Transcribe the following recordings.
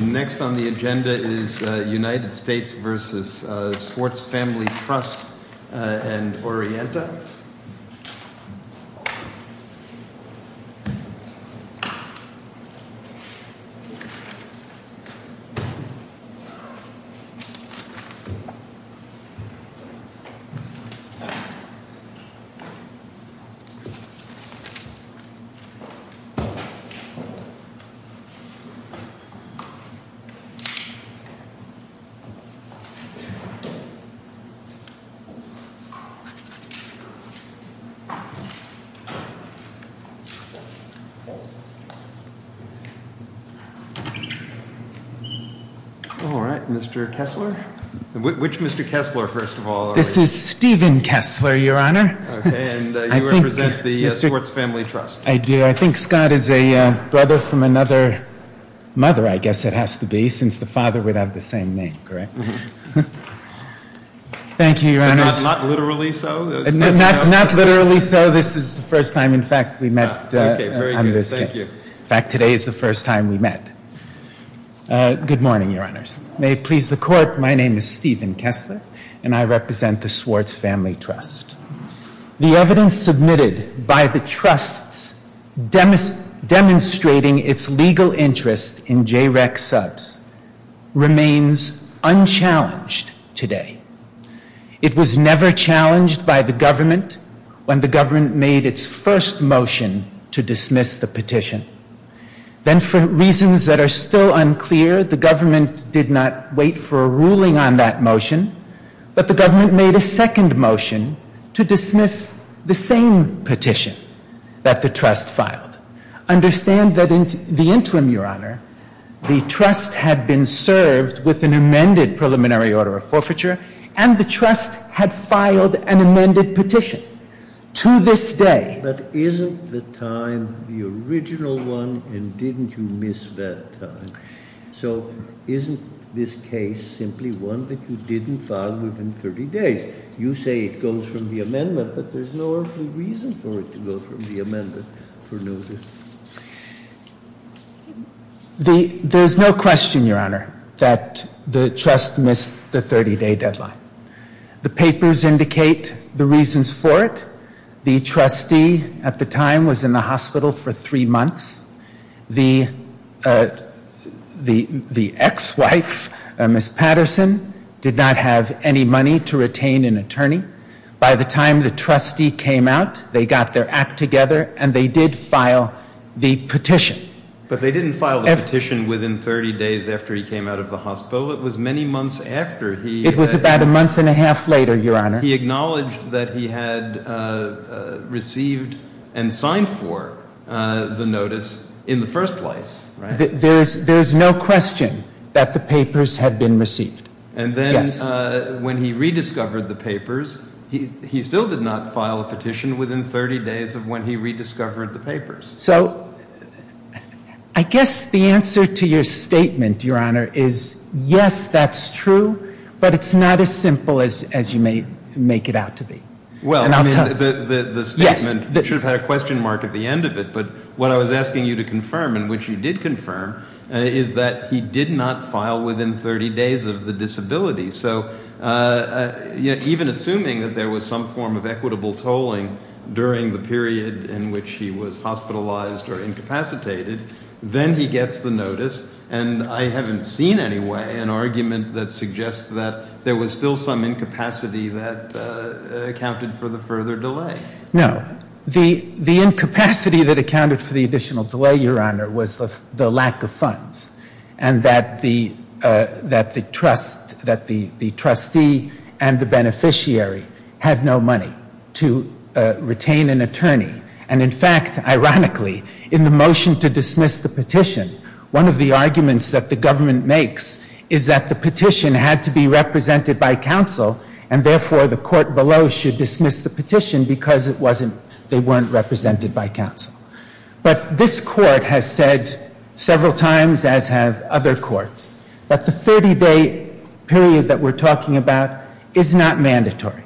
Next on the agenda is United States v. Swartz Family Trust and Orienta. All right, Mr. Kessler. Which Mr. Kessler, first of all? This is Stephen Kessler, Your Honor. And you represent the Swartz Family Trust. I do. I think Scott is a brother from Swartz, I guess it has to be, since the father would have the same name, correct? Thank you, Your Honors. Not literally so? Not literally so. This is the first time, in fact, we met on this case. Okay, very good. Thank you. In fact, today is the first time we met. Good morning, Your Honors. May it please the Court, my name is Stephen Kessler, and I represent the Swartz Family Trust. The evidence submitted by the trusts demonstrating its legal interest in JREC subs remains unchallenged today. It was never challenged by the government when the government made its first motion to dismiss the petition. Then, for reasons that are still unclear, the government did not wait for a ruling on that motion, but the government made a second motion to dismiss the same petition that the trust filed. Understand that in the case, the trust had been served with an amended preliminary order of forfeiture, and the trust had filed an amended petition. To this day. But isn't the time the original one, and didn't you miss that time? So, isn't this case simply one that you didn't file within 30 days? You say it goes from the amendment, but there's no earthly reason for it to go from the amendment for notice. There's no question, Your Honor, that the trust missed the 30-day deadline. The papers indicate the reasons for it. The trustee at the time was in the hospital for three months. The ex-wife, Ms. Patterson, did not have any money to retain an attorney. By the time the trustee came out, they got their act together, and they did file the petition. But they didn't file the petition within 30 days after he came out of the hospital. It was many months after he... It was about a month and a half later, Your Honor. He acknowledged that he had received and signed for the notice in the first place, right? There's no question that the papers had been received. And then when he rediscovered the papers, he still did not file a petition within 30 days of when he rediscovered the papers. So, I guess the answer to your statement, Your Honor, is yes, that's true, but it's not as simple as you may make it out to be. Well, the statement should have had a question mark at the end of it, but what I was asking you to confirm, and which you did confirm, is that he did not file within 30 days of the disability. So, even assuming that there was some form of equitable tolling during the period in which he was hospitalized or incapacitated, then he gets the notice, and I haven't seen any way an argument that suggests that there was still some incapacity that accounted for the further delay. No. The incapacity that accounted for the additional delay, Your Honor, was the lack of funds and that the trustee and the beneficiary had no money to retain an attorney. And in fact, ironically, in the motion to dismiss the petition, one of the arguments that the government makes is that the petition had to be represented by counsel, and therefore the court below should dismiss the petition because it wasn't, they weren't represented by counsel. But this court has said several times, as have other courts, that the 30-day period that we're talking about is not mandatory.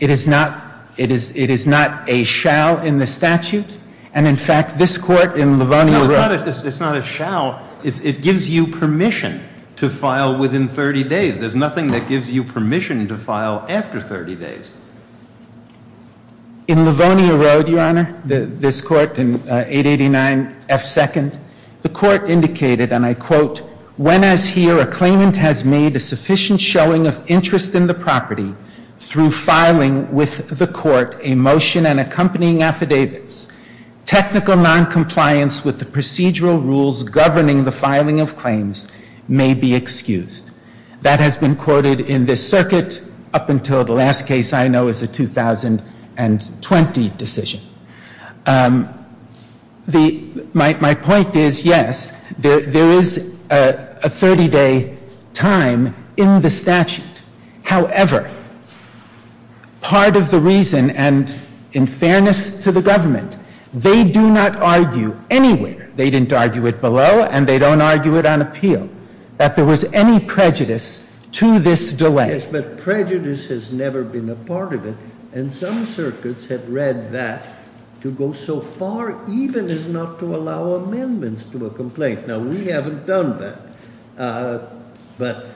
It is not, it is, it is not a shall in the statute, and in fact, this court in Lavonia Road. No, it's not a, it's not a shall. It gives you permission to file within 30 days. There's nothing that gives you permission to file after 30 days. In Lavonia Road, Your Honor, this court in 889F2nd, the court indicated, and I quote, when as here a claimant has made a sufficient showing of interest in the property through filing with the court a motion and accompanying affidavits, technical noncompliance with the statute may be excused. That has been quoted in this circuit up until the last case I know is the 2020 decision. The, my point is, yes, there is a 30-day time in the statute. However, part of the reason, and in fairness to the government, they do not argue anywhere. They didn't argue it below, and they don't argue it on appeal, that there was any prejudice to this delay. Yes, but prejudice has never been a part of it, and some circuits have read that to go so far even as not to allow amendments to a complaint. Now, we haven't done that, but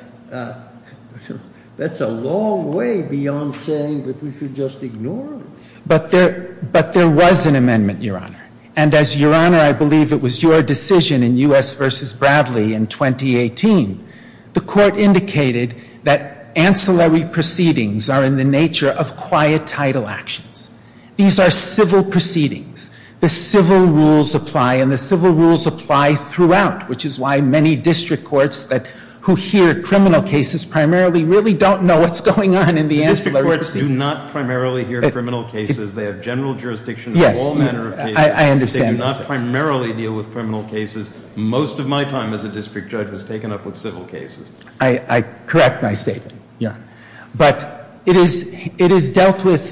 that's a long way beyond saying that we should just ignore it. But there was an amendment, Your Honor, and as, Your Honor, I believe it was your decision in U.S. v. Bradley in 2018, the court indicated that ancillary proceedings are in the nature of quiet title actions. These are civil proceedings. The civil rules apply, and the civil rules apply throughout, which is why many district courts that, who hear criminal cases primarily really don't know what's going on in the ancillary proceedings. District courts do not primarily hear criminal cases. They have general jurisdiction in all manner of cases. Yes, I understand. They do not primarily deal with criminal cases. Most of my time as a district judge was taken up with civil cases. I correct my statement, Your Honor, but it is dealt with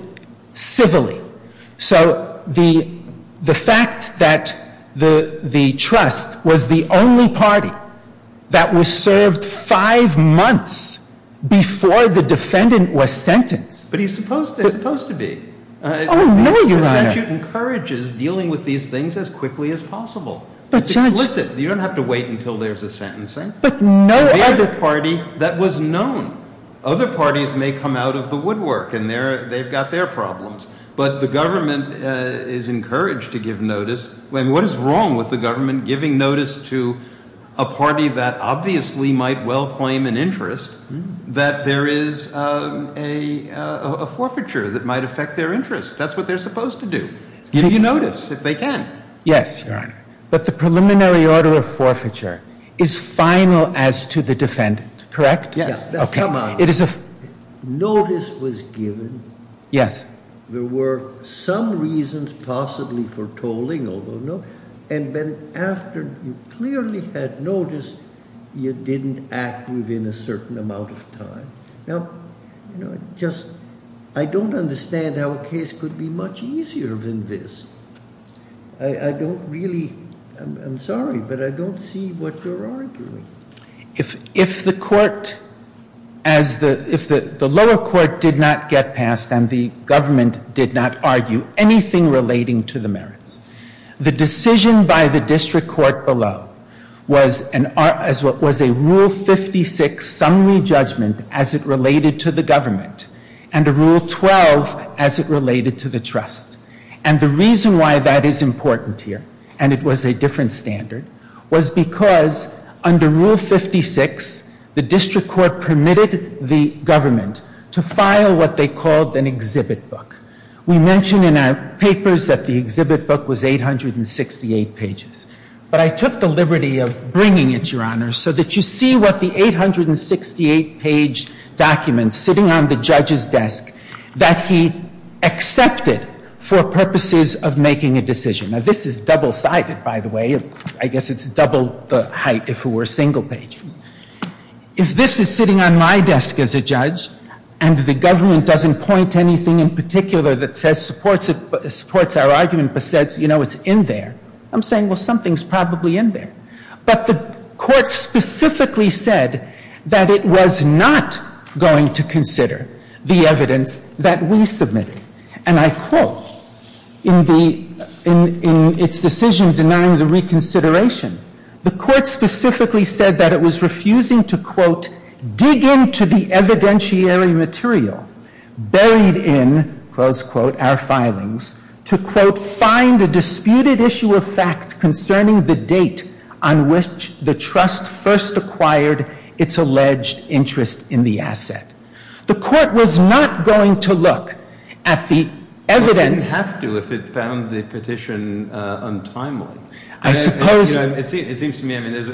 civilly. So the fact that the trust was the only party that was served five months before the defendant was sentenced But it's supposed to be. Oh, no, Your Honor. The statute encourages dealing with these things as quickly as possible. But, Judge— It's explicit. You don't have to wait until there's a sentencing. But no other— The other party that was known. Other parties may come out of the woodwork, and they've got their problems. But the government is encouraged to give notice. What is wrong with the government giving notice to a party that obviously might well claim an interest that there is a forfeiture that might affect their interest? That's what they're supposed to do, give you notice if they can. Yes, Your Honor. But the preliminary order of forfeiture is final as to the defendant, correct? Yes. Now, come on. Notice was given. Yes. There were some reasons possibly for tolling, although no—and then after you clearly had noticed, you didn't act within a certain amount of time. Now, you know, just—I don't understand how a case could be much easier than this. I don't really—I'm sorry, but I don't see what you're arguing. If the court—if the lower court did not get passed and the government did not argue anything relating to the merits, the decision by the district court below was a Rule 56 summary judgment as it related to the government and a Rule 12 as it related to the trust. And the reason why that is important here, and it was a different standard, was because under Rule 56, the district court permitted the government to file what they called an exhibit book. Now, papers that the exhibit book was 868 pages. But I took the liberty of bringing it, Your Honor, so that you see what the 868-page document sitting on the judge's desk that he accepted for purposes of making a decision. Now, this is double-sided, by the way. I guess it's double the height if it were single-page. If this is sitting on my desk as a judge and the government doesn't point to anything in particular that says supports our argument but says, you know, it's in there, I'm saying, well, something's probably in there. But the court specifically said that it was not going to consider the evidence that we submitted. And I quote, in the—in its decision denying the reconsideration, the court specifically said that it was refusing to, quote, dig into the evidentiary material buried in, close quote, our filings, to, quote, find a disputed issue of fact concerning the date on which the trust first acquired its alleged interest in the asset. The court was not going to look at the evidence— Well, it didn't have to if it found the petition untimely. I suppose— You know, it seems to me, I mean, there's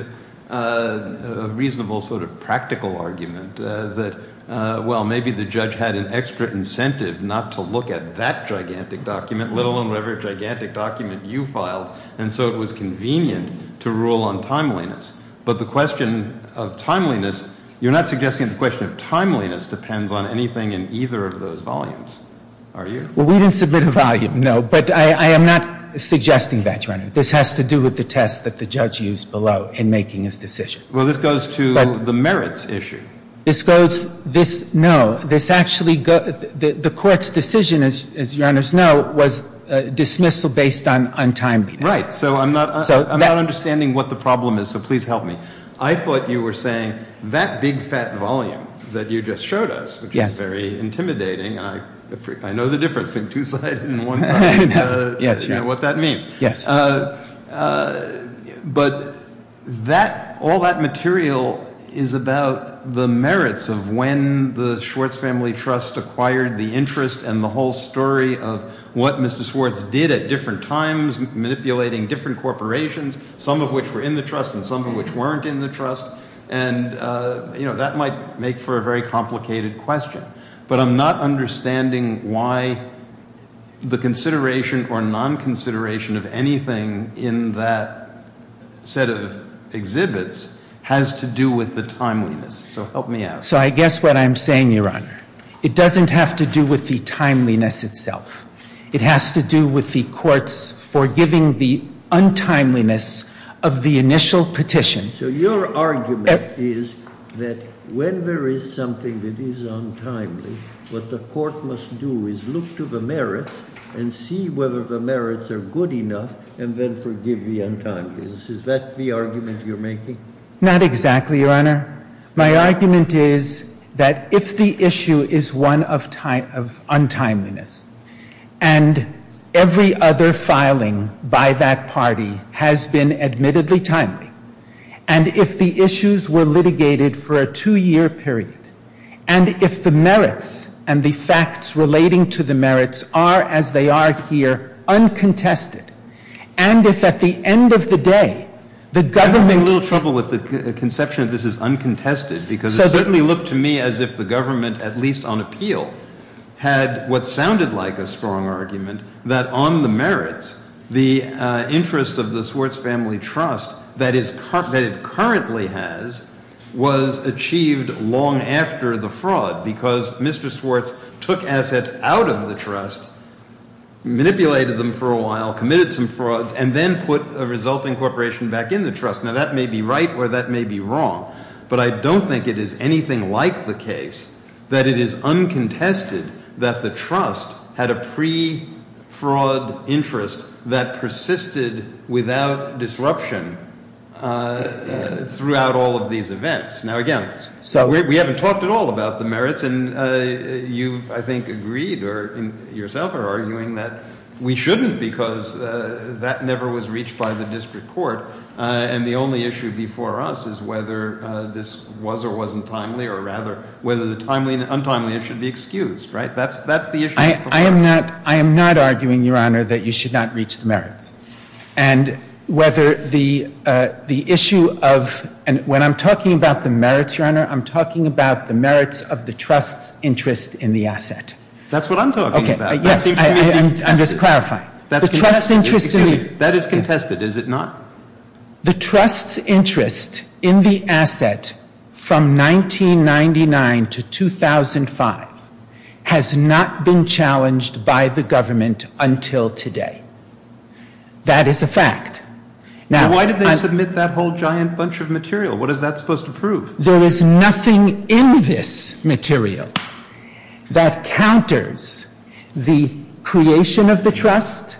a reasonable sort of practical argument that, well, maybe the judge had an extra incentive not to look at that gigantic document, let alone whatever gigantic document you filed, and so it was convenient to rule on timeliness. But the question of timeliness, you're not suggesting the question of timeliness depends on anything in either of those volumes, are you? Well, we didn't submit a volume, no, but I am not suggesting that, Your Honor. This has to do with the test that the judge used below in making his decision. Well, this goes to the merits issue. This goes—this, no, this actually—the court's decision, as Your Honor's know, was dismissal based on timeliness. Right. So I'm not understanding what the problem is, so please help me. I thought you were saying that big, fat volume that you just showed us, which is very intimidating, and I know the difference between two sides and one side, you know, what that means. Yes. But that, all that material is about the merits of when the Schwartz Family Trust acquired the interest and the whole story of what Mr. Schwartz did at different times, manipulating different corporations, some of which were in the trust and some of which weren't in the trust, and, you know, that might make for a very complicated question. But I'm not understanding why the consideration or non-consideration of any number of documents or anything in that set of exhibits has to do with the timeliness. So help me out. So I guess what I'm saying, Your Honor, it doesn't have to do with the timeliness itself. It has to do with the court's forgiving the untimeliness of the initial petition. So your argument is that when there is something that is untimely, what the court must do is look to the merits and see whether the merits are good enough and then forgive the untimeliness. Is that the argument you're making? Not exactly, Your Honor. My argument is that if the issue is one of untimeliness and every other filing by that party has been admittedly timely, and if the issues were litigated for a two-year period, and if the merits and the facts relating to the merits are as they are here uncontested, and if at the end of the day the government... I'm having a little trouble with the conception that this is uncontested because it certainly looked to me as if the government, at least on appeal, had what sounded like a strong argument that on the merits, the interest of the Swartz Family Trust that it currently has, was achieved long after the fraud because Mr. Swartz took assets out of the trust, manipulated them for a while, committed some frauds, and then put a resulting corporation back in the trust. Now that may be right or that may be wrong, but I don't think it is anything like the case that it is uncontested that the trust had a pre-fraud interest that persisted without disruption throughout all of these events. Now again, we haven't talked at all about the merits, and you've, I think, agreed or yourself are arguing that we shouldn't because that never was reached by the district court, and the only issue before us is whether this was or wasn't timely, or rather whether the untimeliness should be excused, right? That's the issue. I am not arguing, Your Honor, that you should not reach the merits, and whether the issue of, and when I'm talking about the merits, Your Honor, I'm talking about the merits of the trust's interest in the asset. That's what I'm talking about. Okay, yes, I'm just clarifying. That's contested. The trust's interest in the Excuse me, that is contested, is it not? The trust's interest in the asset from 1999 to 2005 has not been challenged by the government until today. That is a fact. Why did they submit that whole giant bunch of material? What is that supposed to prove? There is nothing in this material that counters the creation of the trust.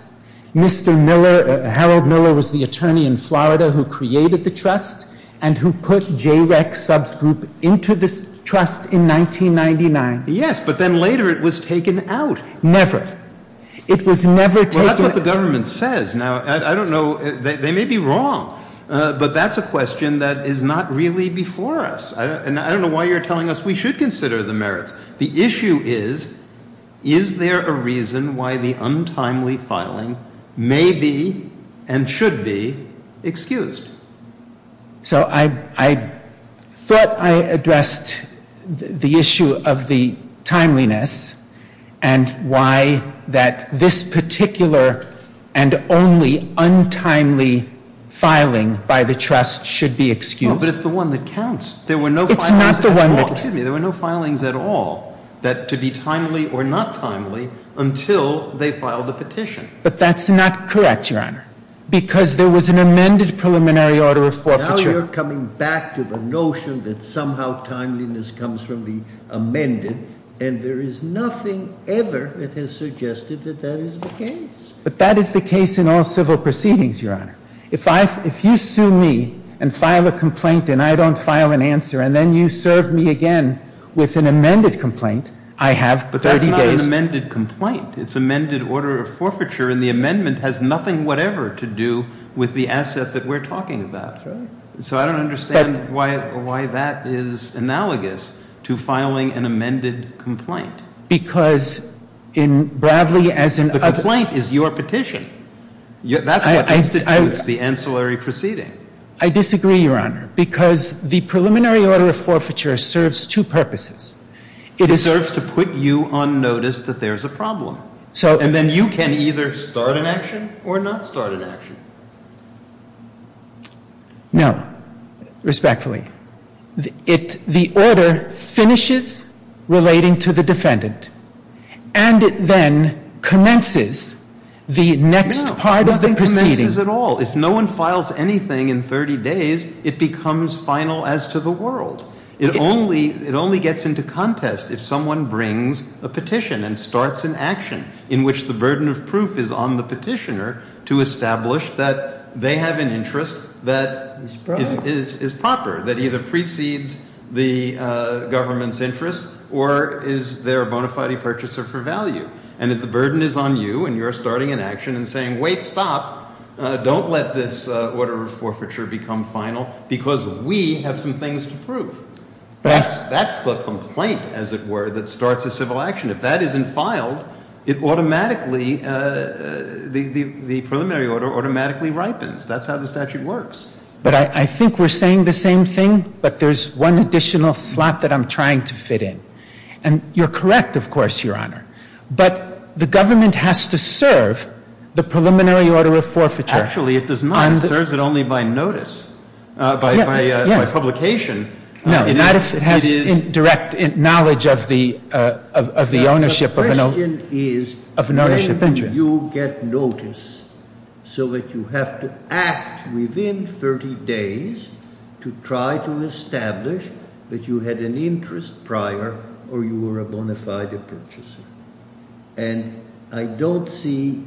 Mr. Miller, Harold Miller was the attorney in Florida who created the trust and who put JREC subgroup into this trust in 1999. Yes, but then later it was taken out. Never. It was never taken out. Well, that's what the government says. Now, I don't know, they may be wrong, but that's a question that is not really before us, and I don't know why you're telling us we should consider the merits. The issue is, is there a reason why the untimely filing may be and should be excused? So I thought I addressed the issue of the timeliness and why that this particular and only untimely filing by the trust should be excused. But it's the one that counts. It's not the one that counts. Excuse me, there were no filings at all that to be timely or not timely until they filed the petition. But that's not correct, Your Honor, because there was an amended preliminary order of forfeiture. Now you're coming back to the notion that somehow timeliness comes from the amended, and there is nothing ever that has suggested that that is the case. But that is the case in all civil proceedings, Your Honor. If you sue me and file a complaint and I don't file an answer, and then you serve me again with an amended complaint, I have 30 days. But that's not an amended complaint. It's amended order of forfeiture, and the amendment has nothing whatever to do with the asset that we're talking about. That's right. So I don't understand why that is analogous to filing an amended complaint. Because in Bradley, as in other... The complaint is your petition. That's what constitutes the ancillary proceeding. I disagree, Your Honor, because the preliminary order of forfeiture serves two purposes. It serves to put you on notice that there's a problem. And then you can either start an action or not start an action. No, respectfully. The order finishes relating to the defendant, and it then commences the next part of the proceeding. No, nothing commences at all. If no one files anything in 30 days, it becomes final as to the world. It only gets into contest if someone brings a petition and starts an action in which the burden of proof is on the petitioner to establish that they have an interest that is proper, that either precedes the government's interest or is there a bona fide purchaser for value. And if the burden is on you and you're starting an action and saying, wait, stop, don't let this order of forfeiture become final because we have some things to prove. That's the complaint, as it were, that starts a civil action. If that isn't filed, it automatically, the preliminary order automatically ripens. That's how the statute works. But I think we're saying the same thing, but there's one additional slot that I'm trying to fit in. And you're correct, of course, Your Honor. But the government has to serve the preliminary order of forfeiture. Actually, it does not. It serves it only by notice, by publication. No, not if it has indirect knowledge of the ownership of an ownership interest. You get notice so that you have to act within 30 days to try to establish that you had an interest prior or you were a bona fide purchaser. And I don't see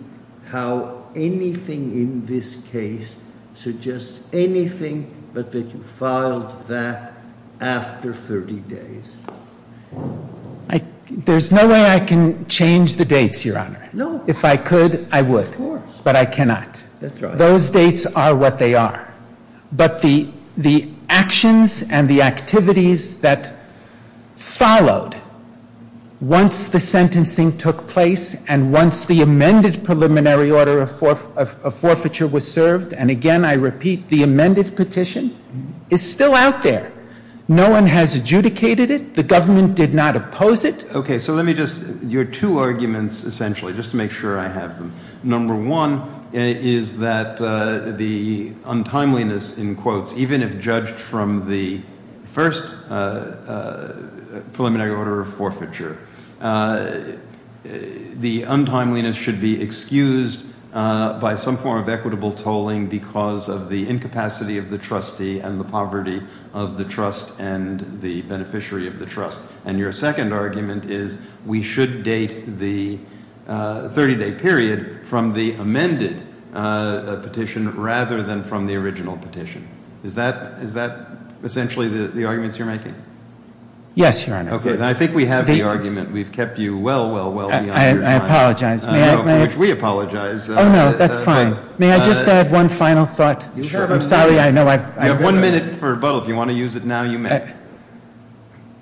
how anything in this case suggests anything but that you filed that after 30 days. There's no way I can change the dates, Your Honor. No. If I could, I would. Of course. But I cannot. That's right. Those dates are what they are. But the actions and the activities that followed once the sentencing took place and once the amended preliminary order of forfeiture was served, and again I repeat, the amended petition is still out there. No one has adjudicated it. The government did not oppose it. Okay, so let me just – your two arguments essentially, just to make sure I have them. Number one is that the untimeliness, in quotes, even if judged from the first preliminary order of forfeiture, the untimeliness should be excused by some form of equitable tolling because of the incapacity of the trustee and the poverty of the trust and the beneficiary of the trust. And your second argument is we should date the 30-day period from the amended petition rather than from the original petition. Is that essentially the arguments you're making? Yes, Your Honor. Okay. I think we have the argument. We've kept you well, well, well beyond your time. I apologize. I wish we apologized. Oh, no. That's fine. May I just add one final thought? Sure. I'm sorry. You have one minute for rebuttal. If you want to use it now, you may.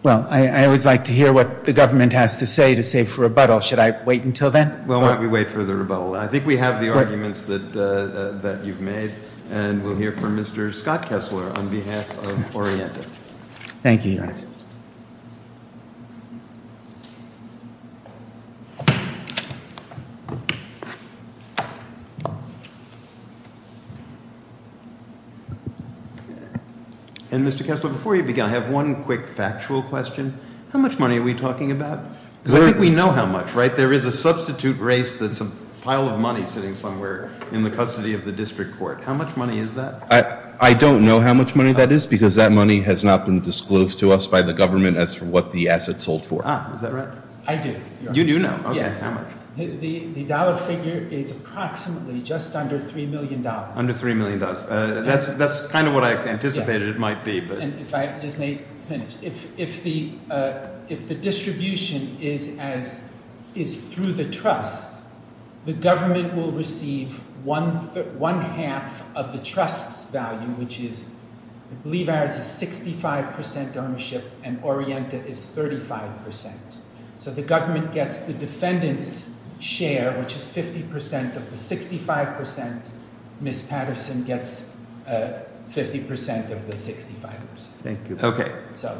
Well, I always like to hear what the government has to say to save for rebuttal. Should I wait until then? Why don't we wait for the rebuttal? I think we have the arguments that you've made, and we'll hear from Mr. Scott Kessler on behalf of Orienta. Thank you, Your Honor. Please. And, Mr. Kessler, before you begin, I have one quick factual question. How much money are we talking about? Because I think we know how much, right? There is a substitute race that's a pile of money sitting somewhere in the custody of the district court. How much money is that? I don't know how much money that is because that money has not been disclosed to us by the government as to what the assets sold for. Is that right? I do. You do know? Yes. Okay. How much? The dollar figure is approximately just under $3 million. Under $3 million. That's kind of what I anticipated it might be. And if I just may finish. If the distribution is through the trust, the government will receive one-half of the trust's value, which is, I believe ours is 65% ownership, and Orienta is 35%. So the government gets the defendant's share, which is 50% of the 65%. Ms. Patterson gets 50% of the 65%. Thank you. Okay.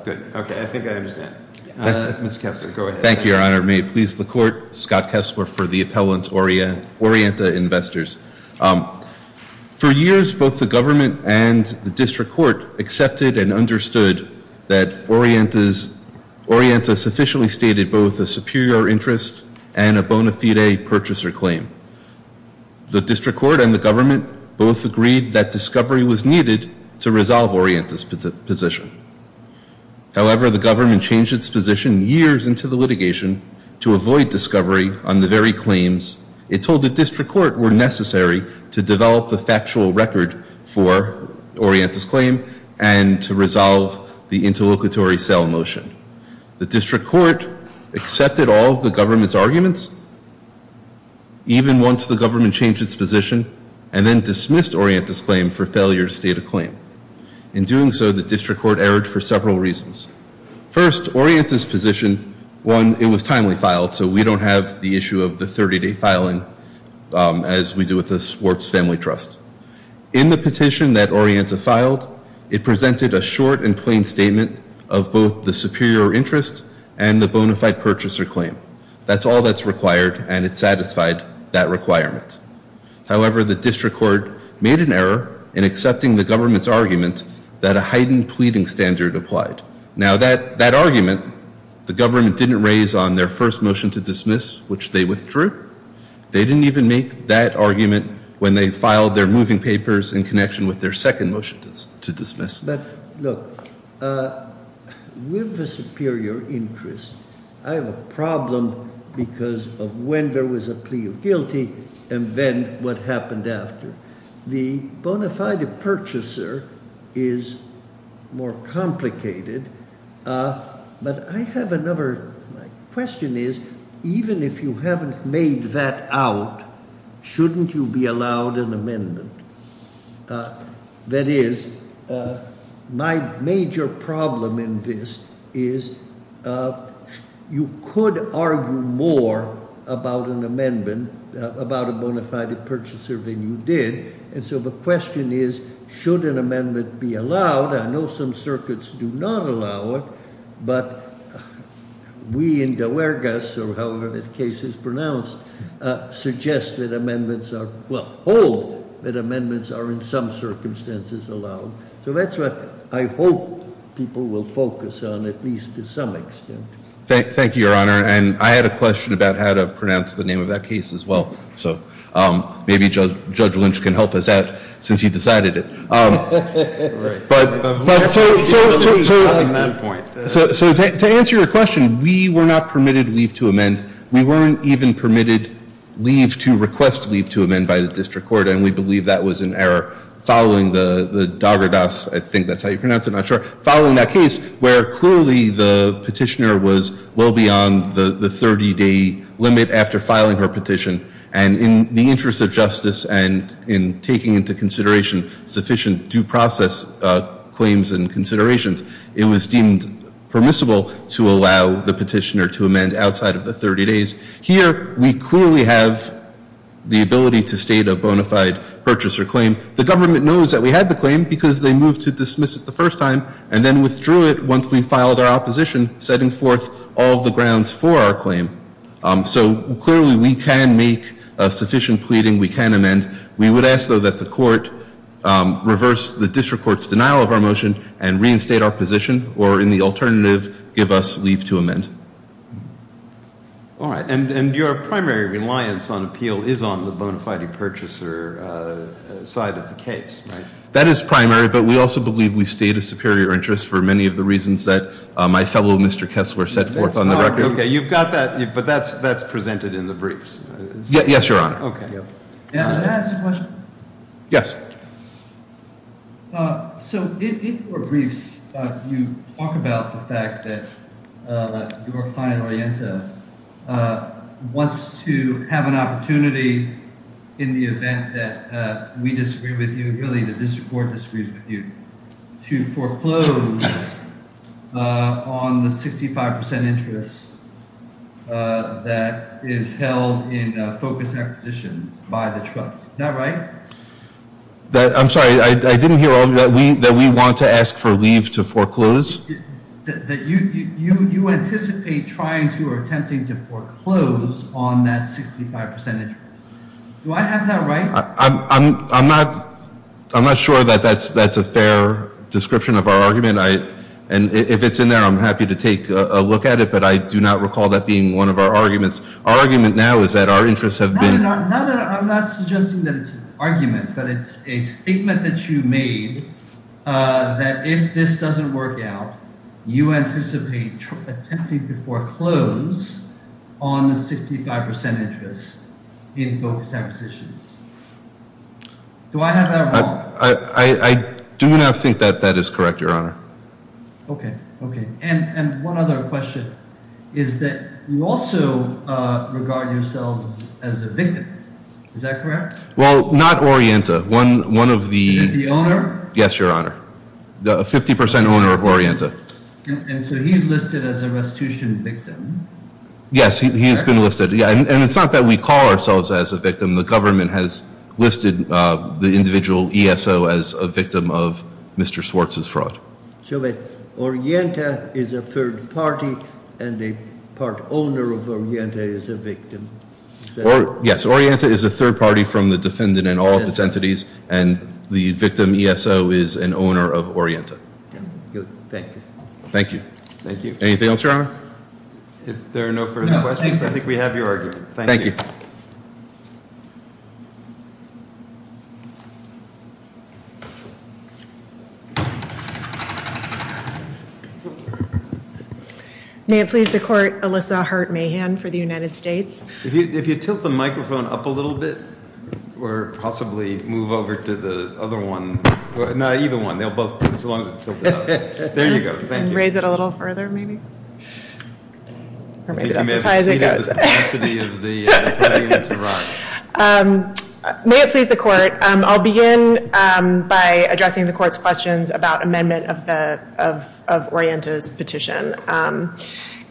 Good. Okay. I think I understand. Mr. Kessler, go ahead. Thank you, Your Honor. May it please the Court. Scott Kessler for the appellant, Orienta Investors. For years, both the government and the district court accepted and understood that Orienta sufficiently stated both a superior interest and a bona fide purchaser claim. The district court and the government both agreed that discovery was needed to resolve Orienta's position. However, the government changed its position years into the litigation to avoid discovery on the very claims it told the district court were necessary to develop the factual record for Orienta's claim and to resolve the interlocutory sale motion. The district court accepted all of the government's arguments, even once the government changed its position, and then dismissed Orienta's claim for failure to state a claim. In doing so, the district court erred for several reasons. First, Orienta's position, one, it was timely filed, so we don't have the issue of the 30-day filing as we do with the Swartz Family Trust. In the petition that Orienta filed, it presented a short and plain statement of both the superior interest and the bona fide purchaser claim. That's all that's required, and it satisfied that requirement. However, the district court made an error in accepting the government's argument that a heightened pleading standard applied. Now, that argument, the government didn't raise on their first motion to dismiss, which they withdrew. They didn't even make that argument when they filed their moving papers in connection with their second motion to dismiss. But look, with the superior interest, I have a problem because of when there was a plea of guilty and then what happened after. The bona fide purchaser is more complicated, but I have another. My question is, even if you haven't made that out, shouldn't you be allowed an amendment? That is, my major problem in this is you could argue more about an amendment, about a bona fide purchaser, than you did. And so the question is, should an amendment be allowed? I know some circuits do not allow it, but we in DeLargas, or however that case is pronounced, suggest that amendments are, well, hold that amendments are in some circumstances allowed. So that's what I hope people will focus on, at least to some extent. Thank you, Your Honor. And I had a question about how to pronounce the name of that case as well, so maybe Judge Lynch can help us out, since he decided it. Right. So to answer your question, we were not permitted leave to amend. We weren't even permitted leave to request leave to amend by the district court, and we believe that was an error. Following the Daugardas, I think that's how you pronounce it, I'm not sure. Following that case, where clearly the petitioner was well beyond the 30-day limit after filing her petition. And in the interest of justice and in taking into consideration sufficient due process claims and considerations, it was deemed permissible to allow the petitioner to amend outside of the 30 days. Here, we clearly have the ability to state a bona fide purchaser claim. The government knows that we had the claim because they moved to dismiss it the first time, and then withdrew it once we filed our opposition, setting forth all the grounds for our claim. So clearly we can make sufficient pleading, we can amend. We would ask, though, that the court reverse the district court's denial of our motion and reinstate our position, or in the alternative, give us leave to amend. All right. And your primary reliance on appeal is on the bona fide purchaser side of the case, right? That is primary, but we also believe we state a superior interest for many of the reasons that my fellow Mr. Kessler set forth on the record. Okay, you've got that, but that's presented in the briefs. Yes, Your Honor. Okay. May I ask a question? Yes. So in your briefs, you talk about the fact that your client, Orienta, wants to have an opportunity in the event that we disagree with you, to foreclose on the 65% interest that is held in focus acquisitions by the trust. Is that right? I'm sorry, I didn't hear all of you. That we want to ask for leave to foreclose? You anticipate trying to or attempting to foreclose on that 65% interest. Do I have that right? I'm not sure that that's a fair description of our argument, and if it's in there, I'm happy to take a look at it, but I do not recall that being one of our arguments. Our argument now is that our interests have been— No, no, no, I'm not suggesting that it's an argument, but it's a statement that you made that if this doesn't work out, you anticipate attempting to foreclose on the 65% interest in focus acquisitions. Do I have that wrong? I do not think that that is correct, Your Honor. Okay, okay. And one other question is that you also regard yourselves as a victim. Is that correct? Well, not Orienta. One of the— The owner? Yes, Your Honor. A 50% owner of Orienta. And so he's listed as a restitution victim? Yes, he has been listed. And it's not that we call ourselves as a victim. The government has listed the individual ESO as a victim of Mr. Swartz's fraud. So Orienta is a third party, and the part owner of Orienta is a victim. Yes, Orienta is a third party from the defendant and all of its entities, and the victim ESO is an owner of Orienta. Thank you. Thank you. Thank you. Anything else, Your Honor? If there are no further questions, I think we have your argument. Thank you. Thank you. May it please the Court, Alyssa Hart-Mahan for the United States. If you tilt the microphone up a little bit, or possibly move over to the other one. No, either one. They'll both—as long as it tilts up. There you go. Thank you. And raise it a little further, maybe? Or maybe that's as high as it goes. May it please the Court, I'll begin by addressing the Court's questions about amendment of Orienta's petition.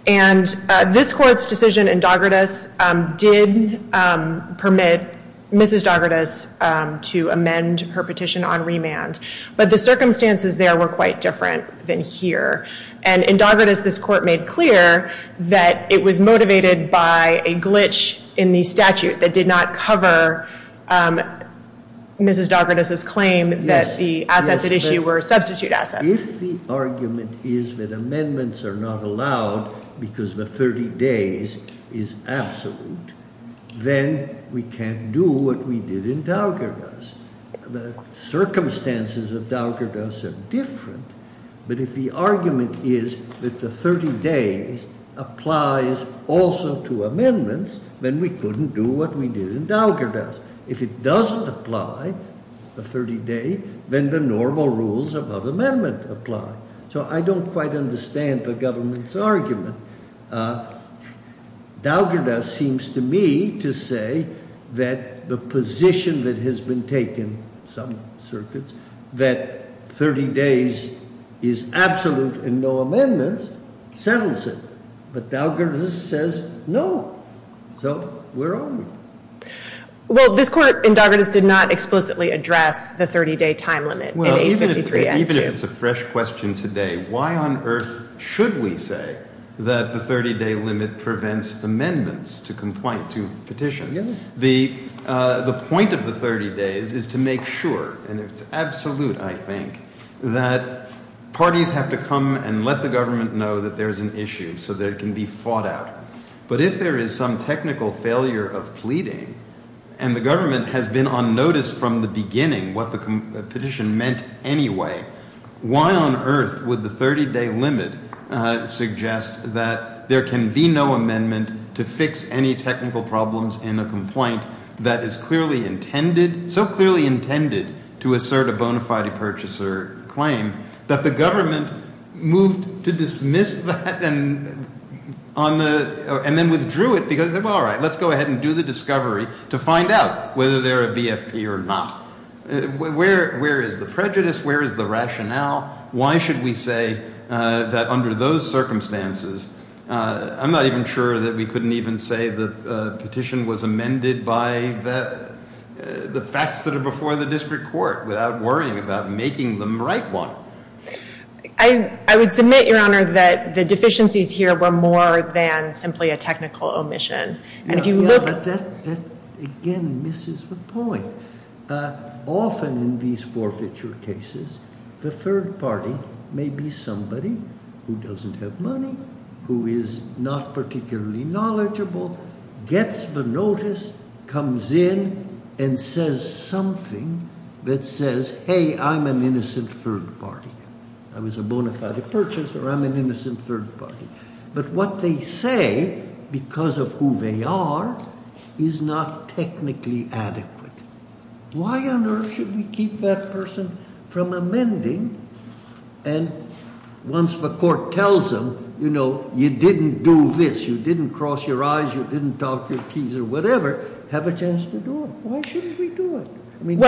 And this Court's decision in Doggartus did permit Mrs. Doggartus to amend her petition on remand, but the circumstances there were quite different than here. And in Doggartus, this Court made clear that it was motivated by a glitch in the statute that did not cover Mrs. Doggartus's claim that the assets at issue were substitute assets. If the argument is that amendments are not allowed because the 30 days is absolute, then we can't do what we did in Doggartus. The circumstances of Doggartus are different, but if the argument is that the 30 days applies also to amendments, then we couldn't do what we did in Doggartus. If it doesn't apply, the 30 day, then the normal rules of amendment apply. So I don't quite understand the government's argument. Doggartus seems to me to say that the position that has been taken, some circuits, that 30 days is absolute and no amendments, settles it. But Doggartus says no. So we're on. Well, this Court in Doggartus did not explicitly address the 30 day time limit. Well, even if it's a fresh question today, why on earth should we say that the 30 day limit prevents amendments to petition? The point of the 30 days is to make sure, and it's absolute, I think, that parties have to come and let the government know that there is an issue so that it can be fought out. But if there is some technical failure of pleading and the government has been on notice from the beginning what the petition meant anyway, why on earth would the 30 day limit suggest that there can be no amendment to fix any technical problems in a complaint that is so clearly intended to assert a bona fide purchaser claim that the government moved to dismiss that and then withdrew it because, well, all right, let's go ahead and do the discovery to find out whether they're a BFP or not. Where is the prejudice? Where is the rationale? Why should we say that under those circumstances, I'm not even sure that we couldn't even say the petition was amended by the facts that are before the district court without worrying about making them write one. I would submit, Your Honor, that the deficiencies here were more than simply a technical omission. And if you look- Yeah, but that again misses the point. Often in these forfeiture cases, the third party may be somebody who doesn't have money, who is not particularly knowledgeable, gets the notice, comes in, and says something that says, hey, I'm an innocent third party. I was a bona fide purchaser. I'm an innocent third party. But what they say, because of who they are, is not technically adequate. Why on earth should we keep that person from amending? And once the court tells them, you know, you didn't do this, you didn't cross your eyes, you didn't talk your keys or whatever, have a chance to do it. Why shouldn't we do it? I mean,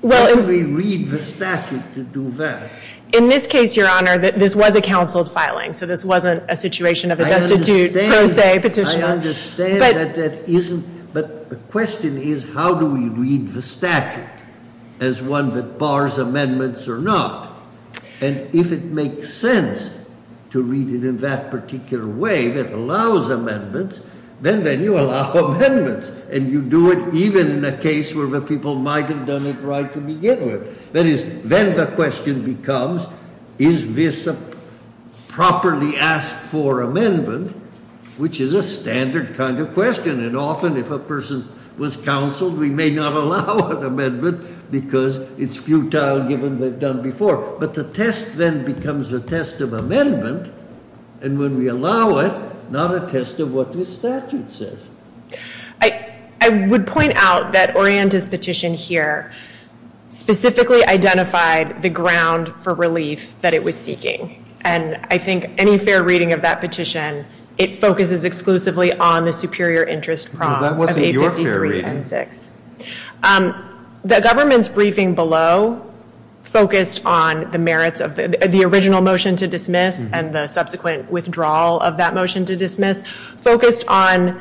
why should we read the statute to do that? In this case, Your Honor, this was a counsel filing, so this wasn't a situation of a destitute pro se petition. I understand that that isn't, but the question is how do we read the statute as one that bars amendments or not? And if it makes sense to read it in that particular way that allows amendments, then you allow amendments. And you do it even in a case where the people might have done it right to begin with. That is, then the question becomes, is this a properly asked for amendment, which is a standard kind of question. And often, if a person was counseled, we may not allow an amendment because it's futile given they've done before. But the test then becomes a test of amendment, and when we allow it, not a test of what the statute says. I would point out that Orienta's petition here specifically identified the ground for relief that it was seeking. And I think any fair reading of that petition, it focuses exclusively on the superior interest prong of 853 and 6. Well, that wasn't your fair reading. The government's briefing below focused on the merits of the original motion to dismiss and the subsequent withdrawal of that motion to dismiss, focused on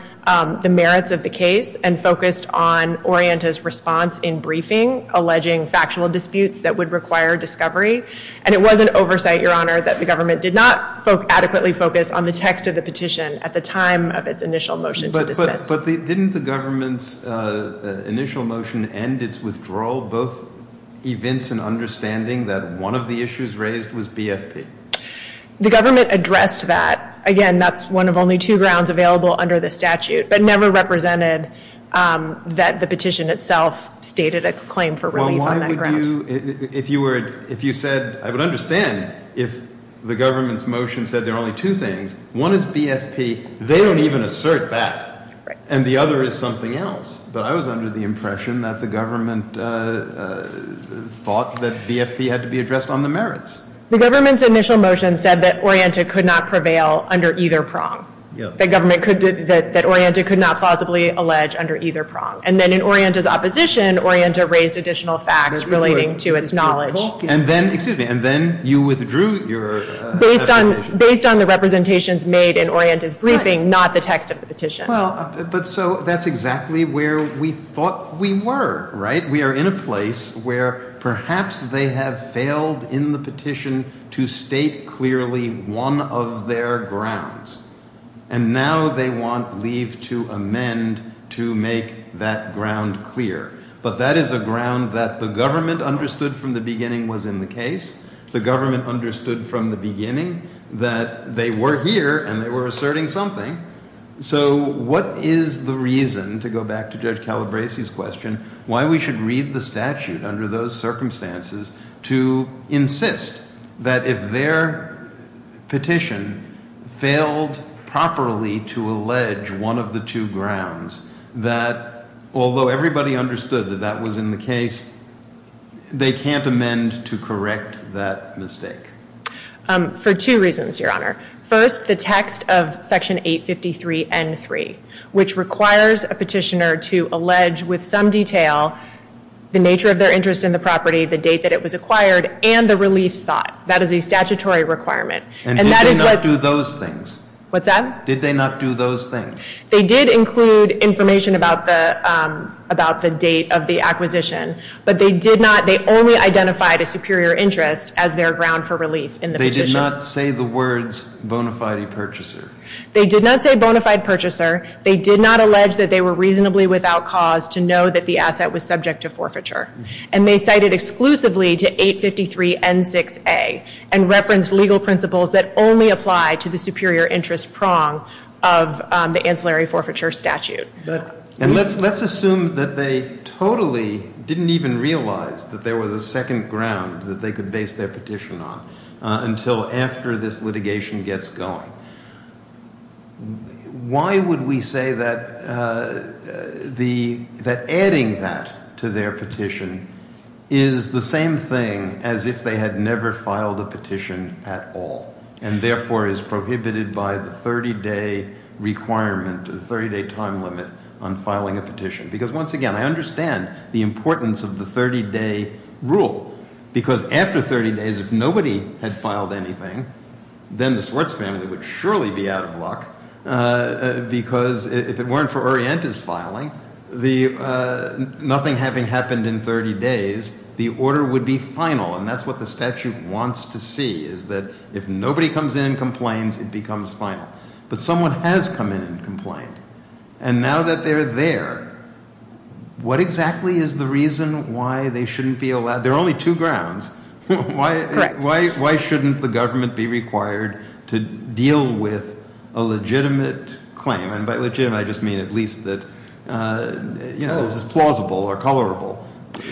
the merits of the case and focused on Orienta's response in briefing alleging factual disputes that would require discovery. And it was an oversight, Your Honor, that the government did not adequately focus on the text of the petition at the time of its initial motion to dismiss. But didn't the government's initial motion and its withdrawal both evince an understanding that one of the issues raised was BFP? The government addressed that. Again, that's one of only two grounds available under the statute, but never represented that the petition itself stated a claim for relief on that ground. If you said, I would understand if the government's motion said there are only two things. One is BFP. They don't even assert that. And the other is something else. But I was under the impression that the government thought that BFP had to be addressed on the merits. The government's initial motion said that Orienta could not prevail under either prong, that Orienta could not plausibly allege under either prong. And then in Orienta's opposition, Orienta raised additional facts relating to its knowledge. And then, excuse me, and then you withdrew your explanation. Based on the representations made in Orienta's briefing, not the text of the petition. But so that's exactly where we thought we were, right? We are in a place where perhaps they have failed in the petition to state clearly one of their grounds. And now they want leave to amend to make that ground clear. But that is a ground that the government understood from the beginning was in the case. The government understood from the beginning that they were here and they were asserting something. So what is the reason, to go back to Judge Calabresi's question, why we should read the statute under those circumstances to insist that if their petition failed properly to allege one of the two grounds, that although everybody understood that that was in the case, they can't amend to correct that mistake? For two reasons, Your Honor. First, the text of Section 853.N.3, which requires a petitioner to allege with some detail the nature of their interest in the property, the date that it was acquired, and the relief sought. That is a statutory requirement. And that is what... And did they not do those things? What's that? Did they not do those things? They did include information about the date of the acquisition. But they did not, they only identified a superior interest as their ground for relief in the petition. They did not say the words bona fide purchaser. They did not say bona fide purchaser. They did not allege that they were reasonably without cause to know that the asset was subject to forfeiture. And they cited exclusively to 853.N.6a and referenced legal principles that only apply to the superior interest prong of the ancillary forfeiture statute. And let's assume that they totally didn't even realize that there was a second ground that they could base their petition on until after this litigation gets going. Why would we say that adding that to their petition is the same thing as if they had never filed a petition at all and therefore is prohibited by the 30-day requirement, the 30-day time limit on filing a petition? Because once again, I understand the importance of the 30-day rule. Because after 30 days, if nobody had filed anything, then the Swartz family would surely be out of luck. Because if it weren't for Orientis filing, nothing having happened in 30 days, the order would be final. And that's what the statute wants to see is that if nobody comes in and complains, it becomes final. But someone has come in and complained. And now that they're there, what exactly is the reason why they shouldn't be allowed? There are only two grounds. Why shouldn't the government be required to deal with a legitimate claim? And by legitimate, I just mean at least that, you know, this is plausible or colorable.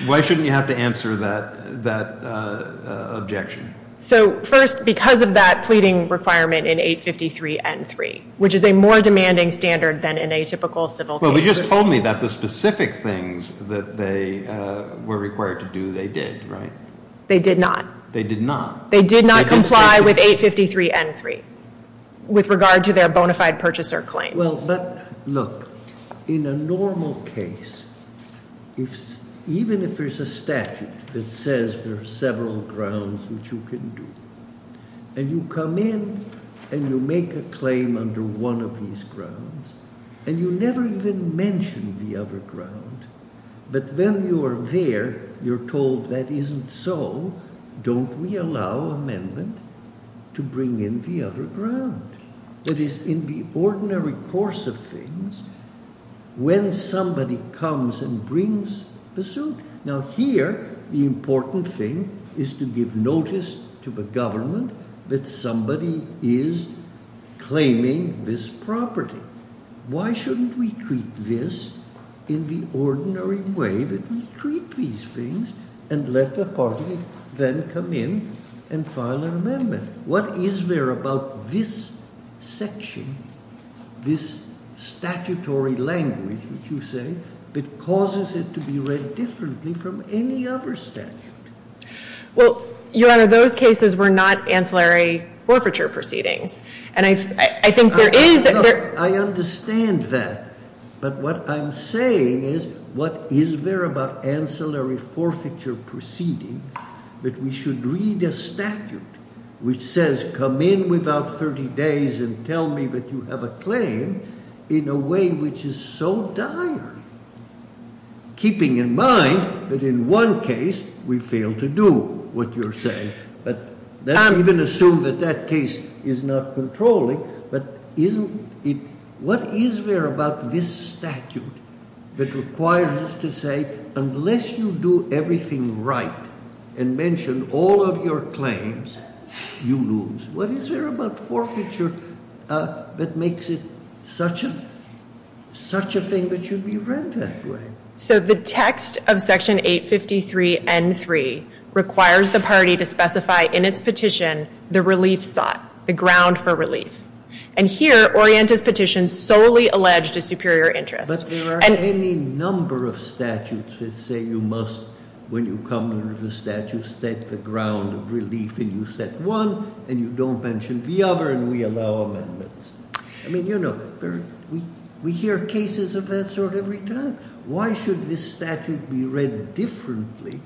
Why shouldn't you have to answer that objection? So first, because of that pleading requirement in 853N3, which is a more demanding standard than in a typical civil case. Well, you just told me that the specific things that they were required to do, they did, right? They did not. They did not. They did not comply with 853N3 with regard to their bona fide purchaser claim. Well, but look, in a normal case, even if there's a statute that says there are several grounds which you can do, and you come in and you make a claim under one of these grounds, and you never even mention the other ground, but then you are there, you're told that isn't so, don't we allow amendment to bring in the other ground? That is, in the ordinary course of things, when somebody comes and brings the suit, now here the important thing is to give notice to the government that somebody is claiming this property. Why shouldn't we treat this in the ordinary way that we treat these things and let the party then come in and file an amendment? What is there about this section, this statutory language, which you say, that causes it to be read differently from any other statute? Well, Your Honor, those cases were not ancillary forfeiture proceedings. And I think there is that there's – I understand that. But what I'm saying is what is there about ancillary forfeiture proceedings that we should read a statute which says come in without 30 days and tell me that you have a claim in a way which is so dire, keeping in mind that in one case we failed to do what you're saying, but then even assume that that case is not controlling, but isn't it – what is there about this statute that requires us to say, unless you do everything right and mention all of your claims, you lose? What is there about forfeiture that makes it such a thing that should be read that way? So the text of Section 853N3 requires the party to specify in its petition the relief sought, the ground for relief. And here, Orienta's petition solely alleged a superior interest. But there are any number of statutes that say you must, when you come to the statute, state the ground of relief and you set one and you don't mention the other and we allow amendments. I mean, you know, we hear cases of that sort every time. Why should this statute be read differently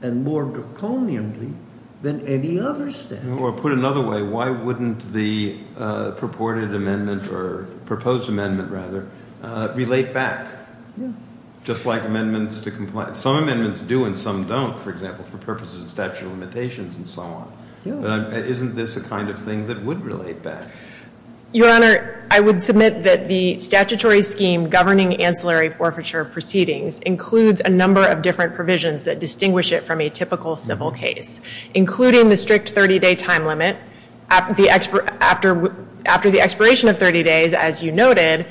and more draconianly than any other statute? Or put another way, why wouldn't the purported amendment or proposed amendment, rather, relate back? Yeah. Just like amendments to – some amendments do and some don't, for example, for purposes of statute of limitations and so on. Yeah. Isn't this a kind of thing that would relate back? Your Honor, I would submit that the statutory scheme governing ancillary forfeiture proceedings includes a number of different provisions that distinguish it from a typical civil case, including the strict 30-day time limit. After the expiration of 30 days, as you noted,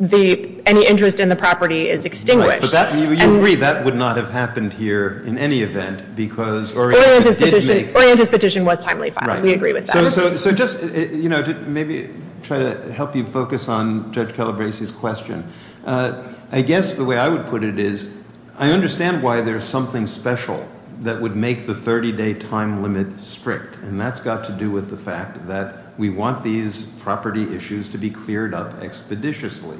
any interest in the property is extinguished. Right. But you agree that would not have happened here in any event because Orienta did make – Orienta's petition was timely filed. Right. We agree with that. So just, you know, to maybe try to help you focus on Judge Calabresi's question, I guess the way I would put it is I understand why there's something special that would make the 30-day time limit strict, and that's got to do with the fact that we want these property issues to be cleared up expeditiously.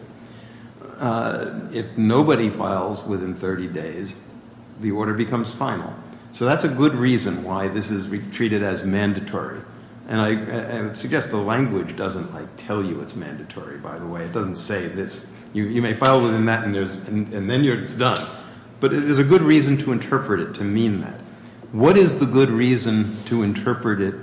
If nobody files within 30 days, the order becomes final. So that's a good reason why this is treated as mandatory. And I would suggest the language doesn't, like, tell you it's mandatory, by the way. It doesn't say this. You may file within that, and then it's done. But it is a good reason to interpret it, to mean that. What is the good reason to interpret it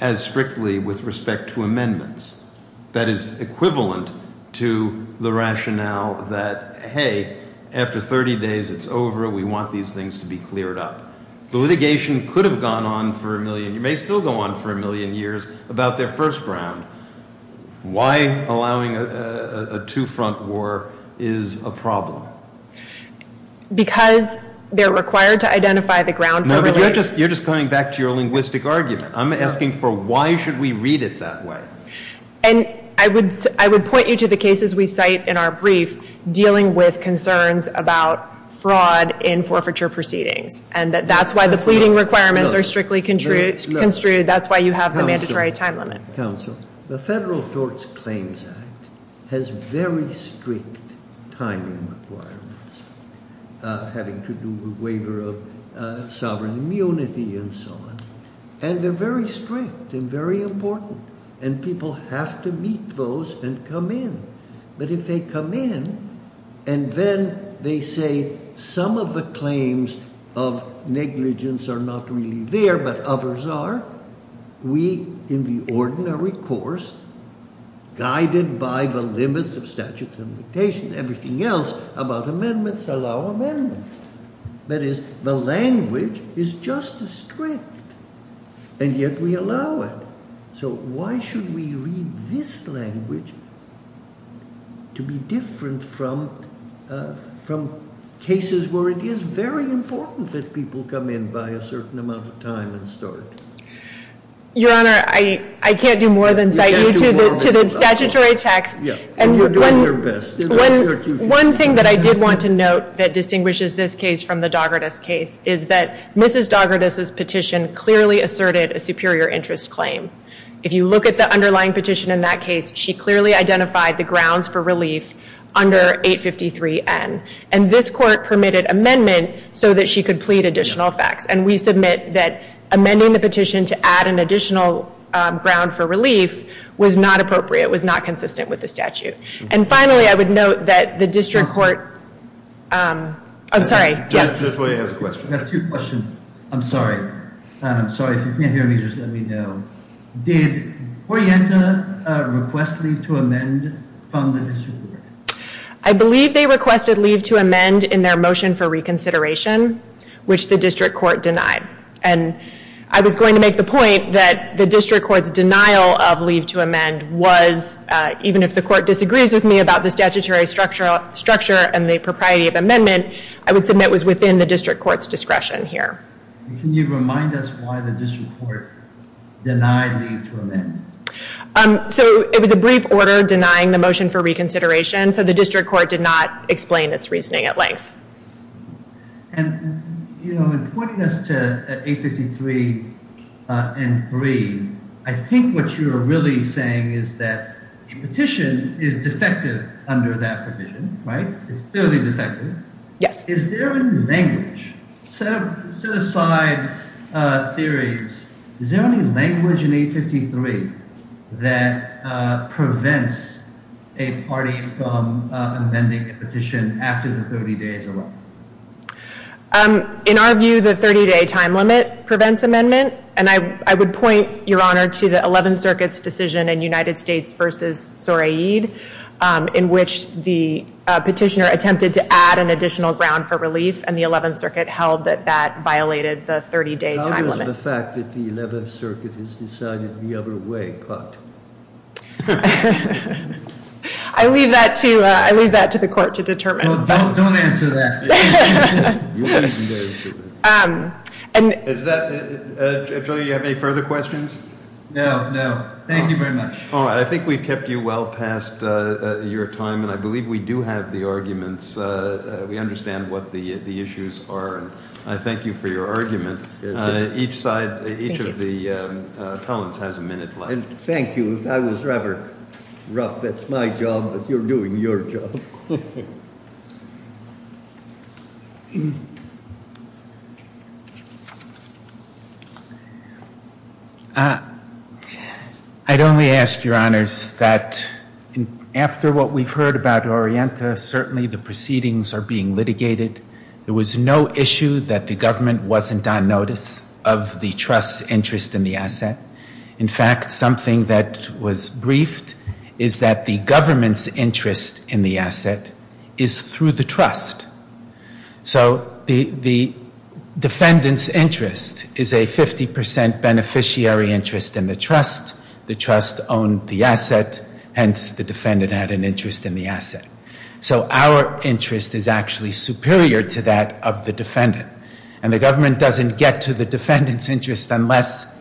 as strictly with respect to amendments? That is equivalent to the rationale that, hey, after 30 days it's over. We want these things to be cleared up. The litigation could have gone on for a million – may still go on for a million years about their first ground. Why allowing a two-front war is a problem? Because they're required to identify the ground for – No, but you're just coming back to your linguistic argument. I'm asking for why should we read it that way? And I would point you to the cases we cite in our brief dealing with concerns about fraud in forfeiture proceedings. And that's why the pleading requirements are strictly construed. That's why you have the mandatory time limit. Counsel, the Federal Torts Claims Act has very strict timing requirements, having to do with waiver of sovereign immunity and so on. And they're very strict and very important. And people have to meet those and come in. But if they come in and then they say some of the claims of negligence are not really there but others are, we, in the ordinary course, guided by the limits of statutes and limitations, everything else about amendments, allow amendments. That is, the language is just as strict. And yet we allow it. So why should we read this language to be different from cases where it is very important that people come in by a certain amount of time and start? Your Honor, I can't do more than cite you to the statutory text. And you're doing your best. One thing that I did want to note that distinguishes this case from the Dogertes case is that Mrs. Dogertes' petition clearly asserted a superior interest claim. If you look at the underlying petition in that case, she clearly identified the grounds for relief under 853N. And this Court permitted amendment so that she could plead additional facts. And we submit that amending the petition to add an additional ground for relief was not appropriate, was not consistent with the statute. And finally, I would note that the District Court... I'm sorry, yes? I have two questions. I'm sorry. I'm sorry, if you can't hear me, just let me know. Did Orienta request leave to amend from the District Court? I believe they requested leave to amend in their motion for reconsideration, which the District Court denied. And I was going to make the point that the District Court's denial of leave to amend was, even if the Court disagrees with me about the statutory structure and the propriety of amendment, I would submit was within the District Court's discretion here. Can you remind us why the District Court denied leave to amend? So it was a brief order denying the motion for reconsideration, so the District Court did not explain its reasoning at length. And, you know, in pointing us to 853 and 3, I think what you're really saying is that a petition is defective under that provision, right? It's clearly defective. Yes. Is there any language? Set aside theories. Is there any language in 853 that prevents a party from amending a petition after the 30 days are up? In our view, the 30-day time limit prevents amendment. And I would point, Your Honor, to the 11th Circuit's decision in United States v. Soreid, in which the petitioner attempted to add an additional ground for relief, and the 11th Circuit held that that violated the 30-day time limit. How is the fact that the 11th Circuit has decided the other way caught? I leave that to the Court to determine. Well, don't answer that. Is that, Judge O'Neill, do you have any further questions? No, no. Thank you very much. All right, I think we've kept you well past your time, and I believe we do have the arguments. We understand what the issues are. I thank you for your argument. Each side, each of the appellants has a minute left. Thank you. That was rather rough. That's my job, but you're doing your job. I'd only ask, Your Honors, that after what we've heard about Orienta, certainly the proceedings are being litigated. There was no issue that the government wasn't on notice of the trust's interest in the asset. In fact, something that was briefed is that the government's interest in the asset was not on notice. is through the trust. So the defendant's interest is a 50% beneficiary interest in the trust. The trust owned the asset. Hence, the defendant had an interest in the asset. So our interest is actually superior to that of the defendant. And the government doesn't get to the defendant's interest unless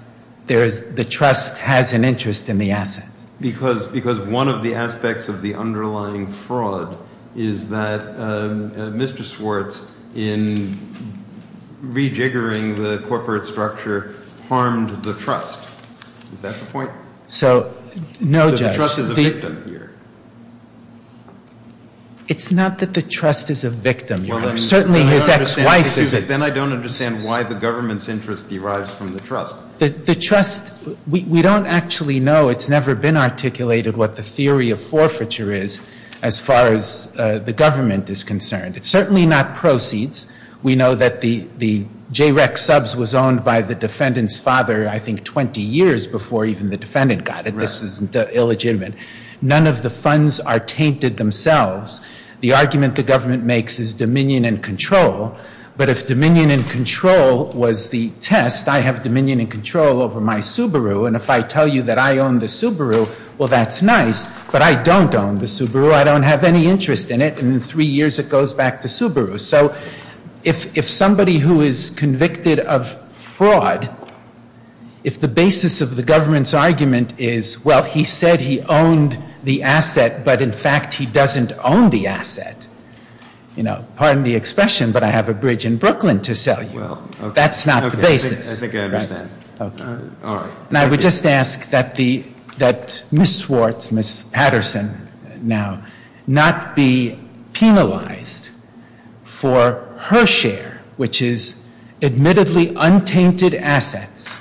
the trust has an interest in the asset. Because one of the aspects of the underlying fraud is that Mr. Swartz, in rejiggering the corporate structure, harmed the trust. Is that the point? No, Judge. The trust is a victim here. It's not that the trust is a victim. Certainly his ex-wife is a victim. We don't actually know. It's never been articulated what the theory of forfeiture is as far as the government is concerned. It's certainly not proceeds. We know that the JREC subs was owned by the defendant's father, I think, 20 years before even the defendant got it. This is illegitimate. None of the funds are tainted themselves. The argument the government makes is dominion and control. But if dominion and control was the test, I have dominion and control over my Subaru. And if I tell you that I own the Subaru, well, that's nice. But I don't own the Subaru. I don't have any interest in it. And in three years, it goes back to Subaru. So if somebody who is convicted of fraud, if the basis of the government's argument is, well, he said he owned the asset, but, in fact, he doesn't own the asset. Pardon the expression, but I have a bridge in Brooklyn to sell you. That's not the basis. I think I understand. All right. And I would just ask that Ms. Swartz, Ms. Patterson now, not be penalized for her share, which is admittedly untainted assets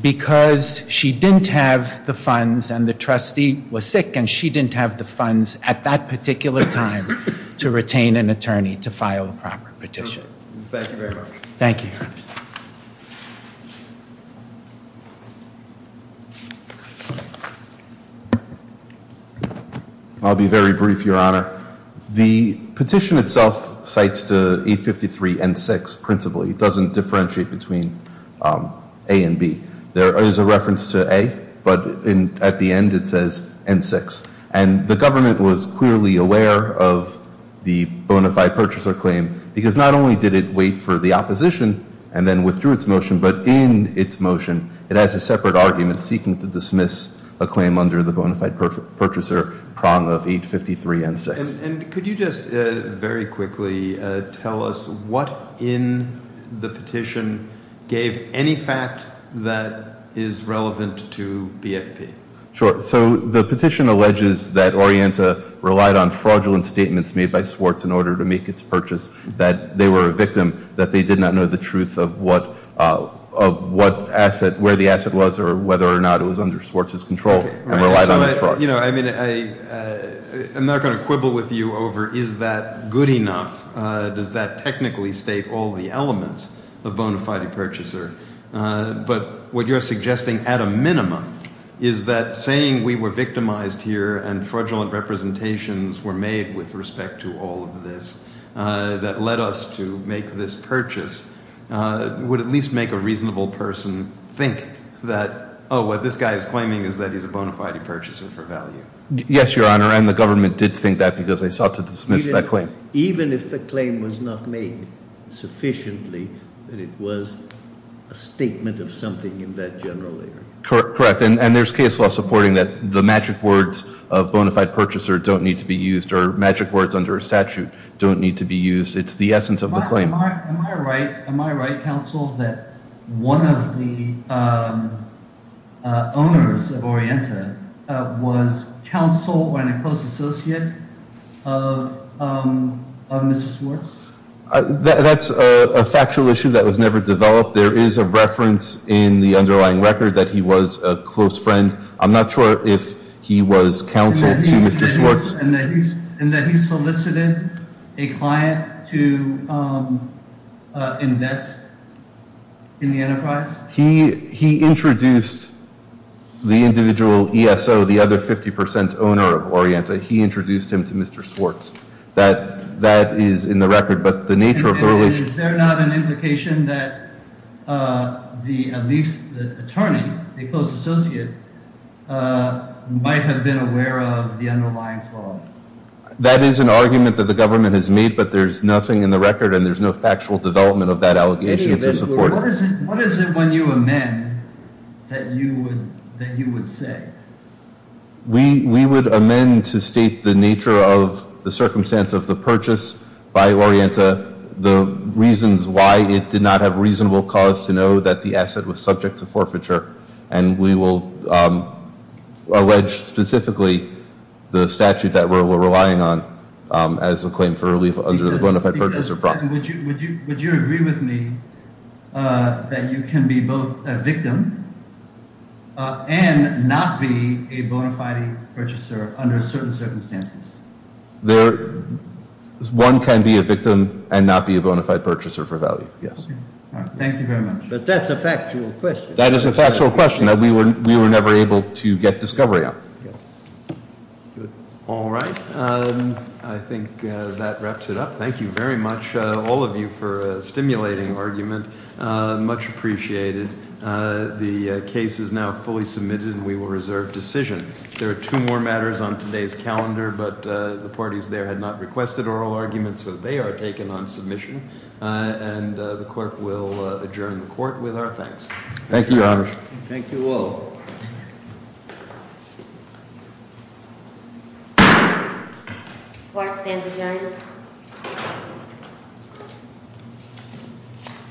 because she didn't have the funds and the trustee was sick and she didn't have the funds at that particular time to retain an attorney to file a proper petition. Thank you very much. Thank you. I'll be very brief, Your Honor. The petition itself cites to 853 N6 principally. It doesn't differentiate between A and B. There is a reference to A, but at the end, it says N6. And the government was clearly aware of the bona fide purchaser claim because not only did it wait for the opposition and then withdrew its motion, but in its motion it has a separate argument seeking to dismiss a claim under the bona fide purchaser prong of 853 N6. And could you just very quickly tell us what in the petition gave any fact that is relevant to BFP? Sure. So the petition alleges that Orienta relied on fraudulent statements made by Swartz in order to make its purchase, that they were a victim, that they did not know the truth of where the asset was or whether or not it was under Swartz's control and relied on his fraud. You know, I mean, I'm not going to quibble with you over is that good enough. Does that technically state all the elements of bona fide purchaser? But what you're suggesting at a minimum is that saying we were victimized here and fraudulent representations were made with respect to all of this that led us to make this purchase would at least make a reasonable person think that, oh, what this guy is claiming is that he's a bona fide purchaser for value. Yes, Your Honor. And the government did think that because they sought to dismiss that claim. Even if the claim was not made sufficiently that it was a statement of something in that general area? Correct. And there's case law supporting that the magic words of bona fide purchaser don't need to be used or magic words under a statute don't need to be used. It's the essence of the claim. Am I right, counsel, that one of the owners of Orienta was counsel and a close associate of Mr. Swartz? That's a factual issue that was never developed. There is a reference in the underlying record that he was a close friend. I'm not sure if he was counsel to Mr. Swartz. And that he solicited a client to invest in the enterprise? He introduced the individual ESO, the other 50 percent owner of Orienta. He introduced him to Mr. Swartz. That is in the record. And is there not an implication that at least the attorney, a close associate, might have been aware of the underlying flaw? That is an argument that the government has made, but there's nothing in the record and there's no factual development of that allegation to support it. What is it when you amend that you would say? We would amend to state the nature of the circumstance of the purchase by Orienta, the reasons why it did not have reasonable cause to know that the asset was subject to forfeiture, and we will allege specifically the statute that we're relying on as a claim for relief under the bona fide purchase of property. Would you agree with me that you can be both a victim and not be a bona fide purchaser under certain circumstances? One can be a victim and not be a bona fide purchaser for value, yes. Thank you very much. But that's a factual question. That is a factual question that we were never able to get discovery on. Good. All right. I think that wraps it up. Thank you very much, all of you, for a stimulating argument. Much appreciated. The case is now fully submitted and we will reserve decision. There are two more matters on today's calendar, but the parties there had not requested oral arguments, so they are taken on submission. And the clerk will adjourn the court with our thanks. Thank you, Your Honor. Thank you all. Court is adjourned.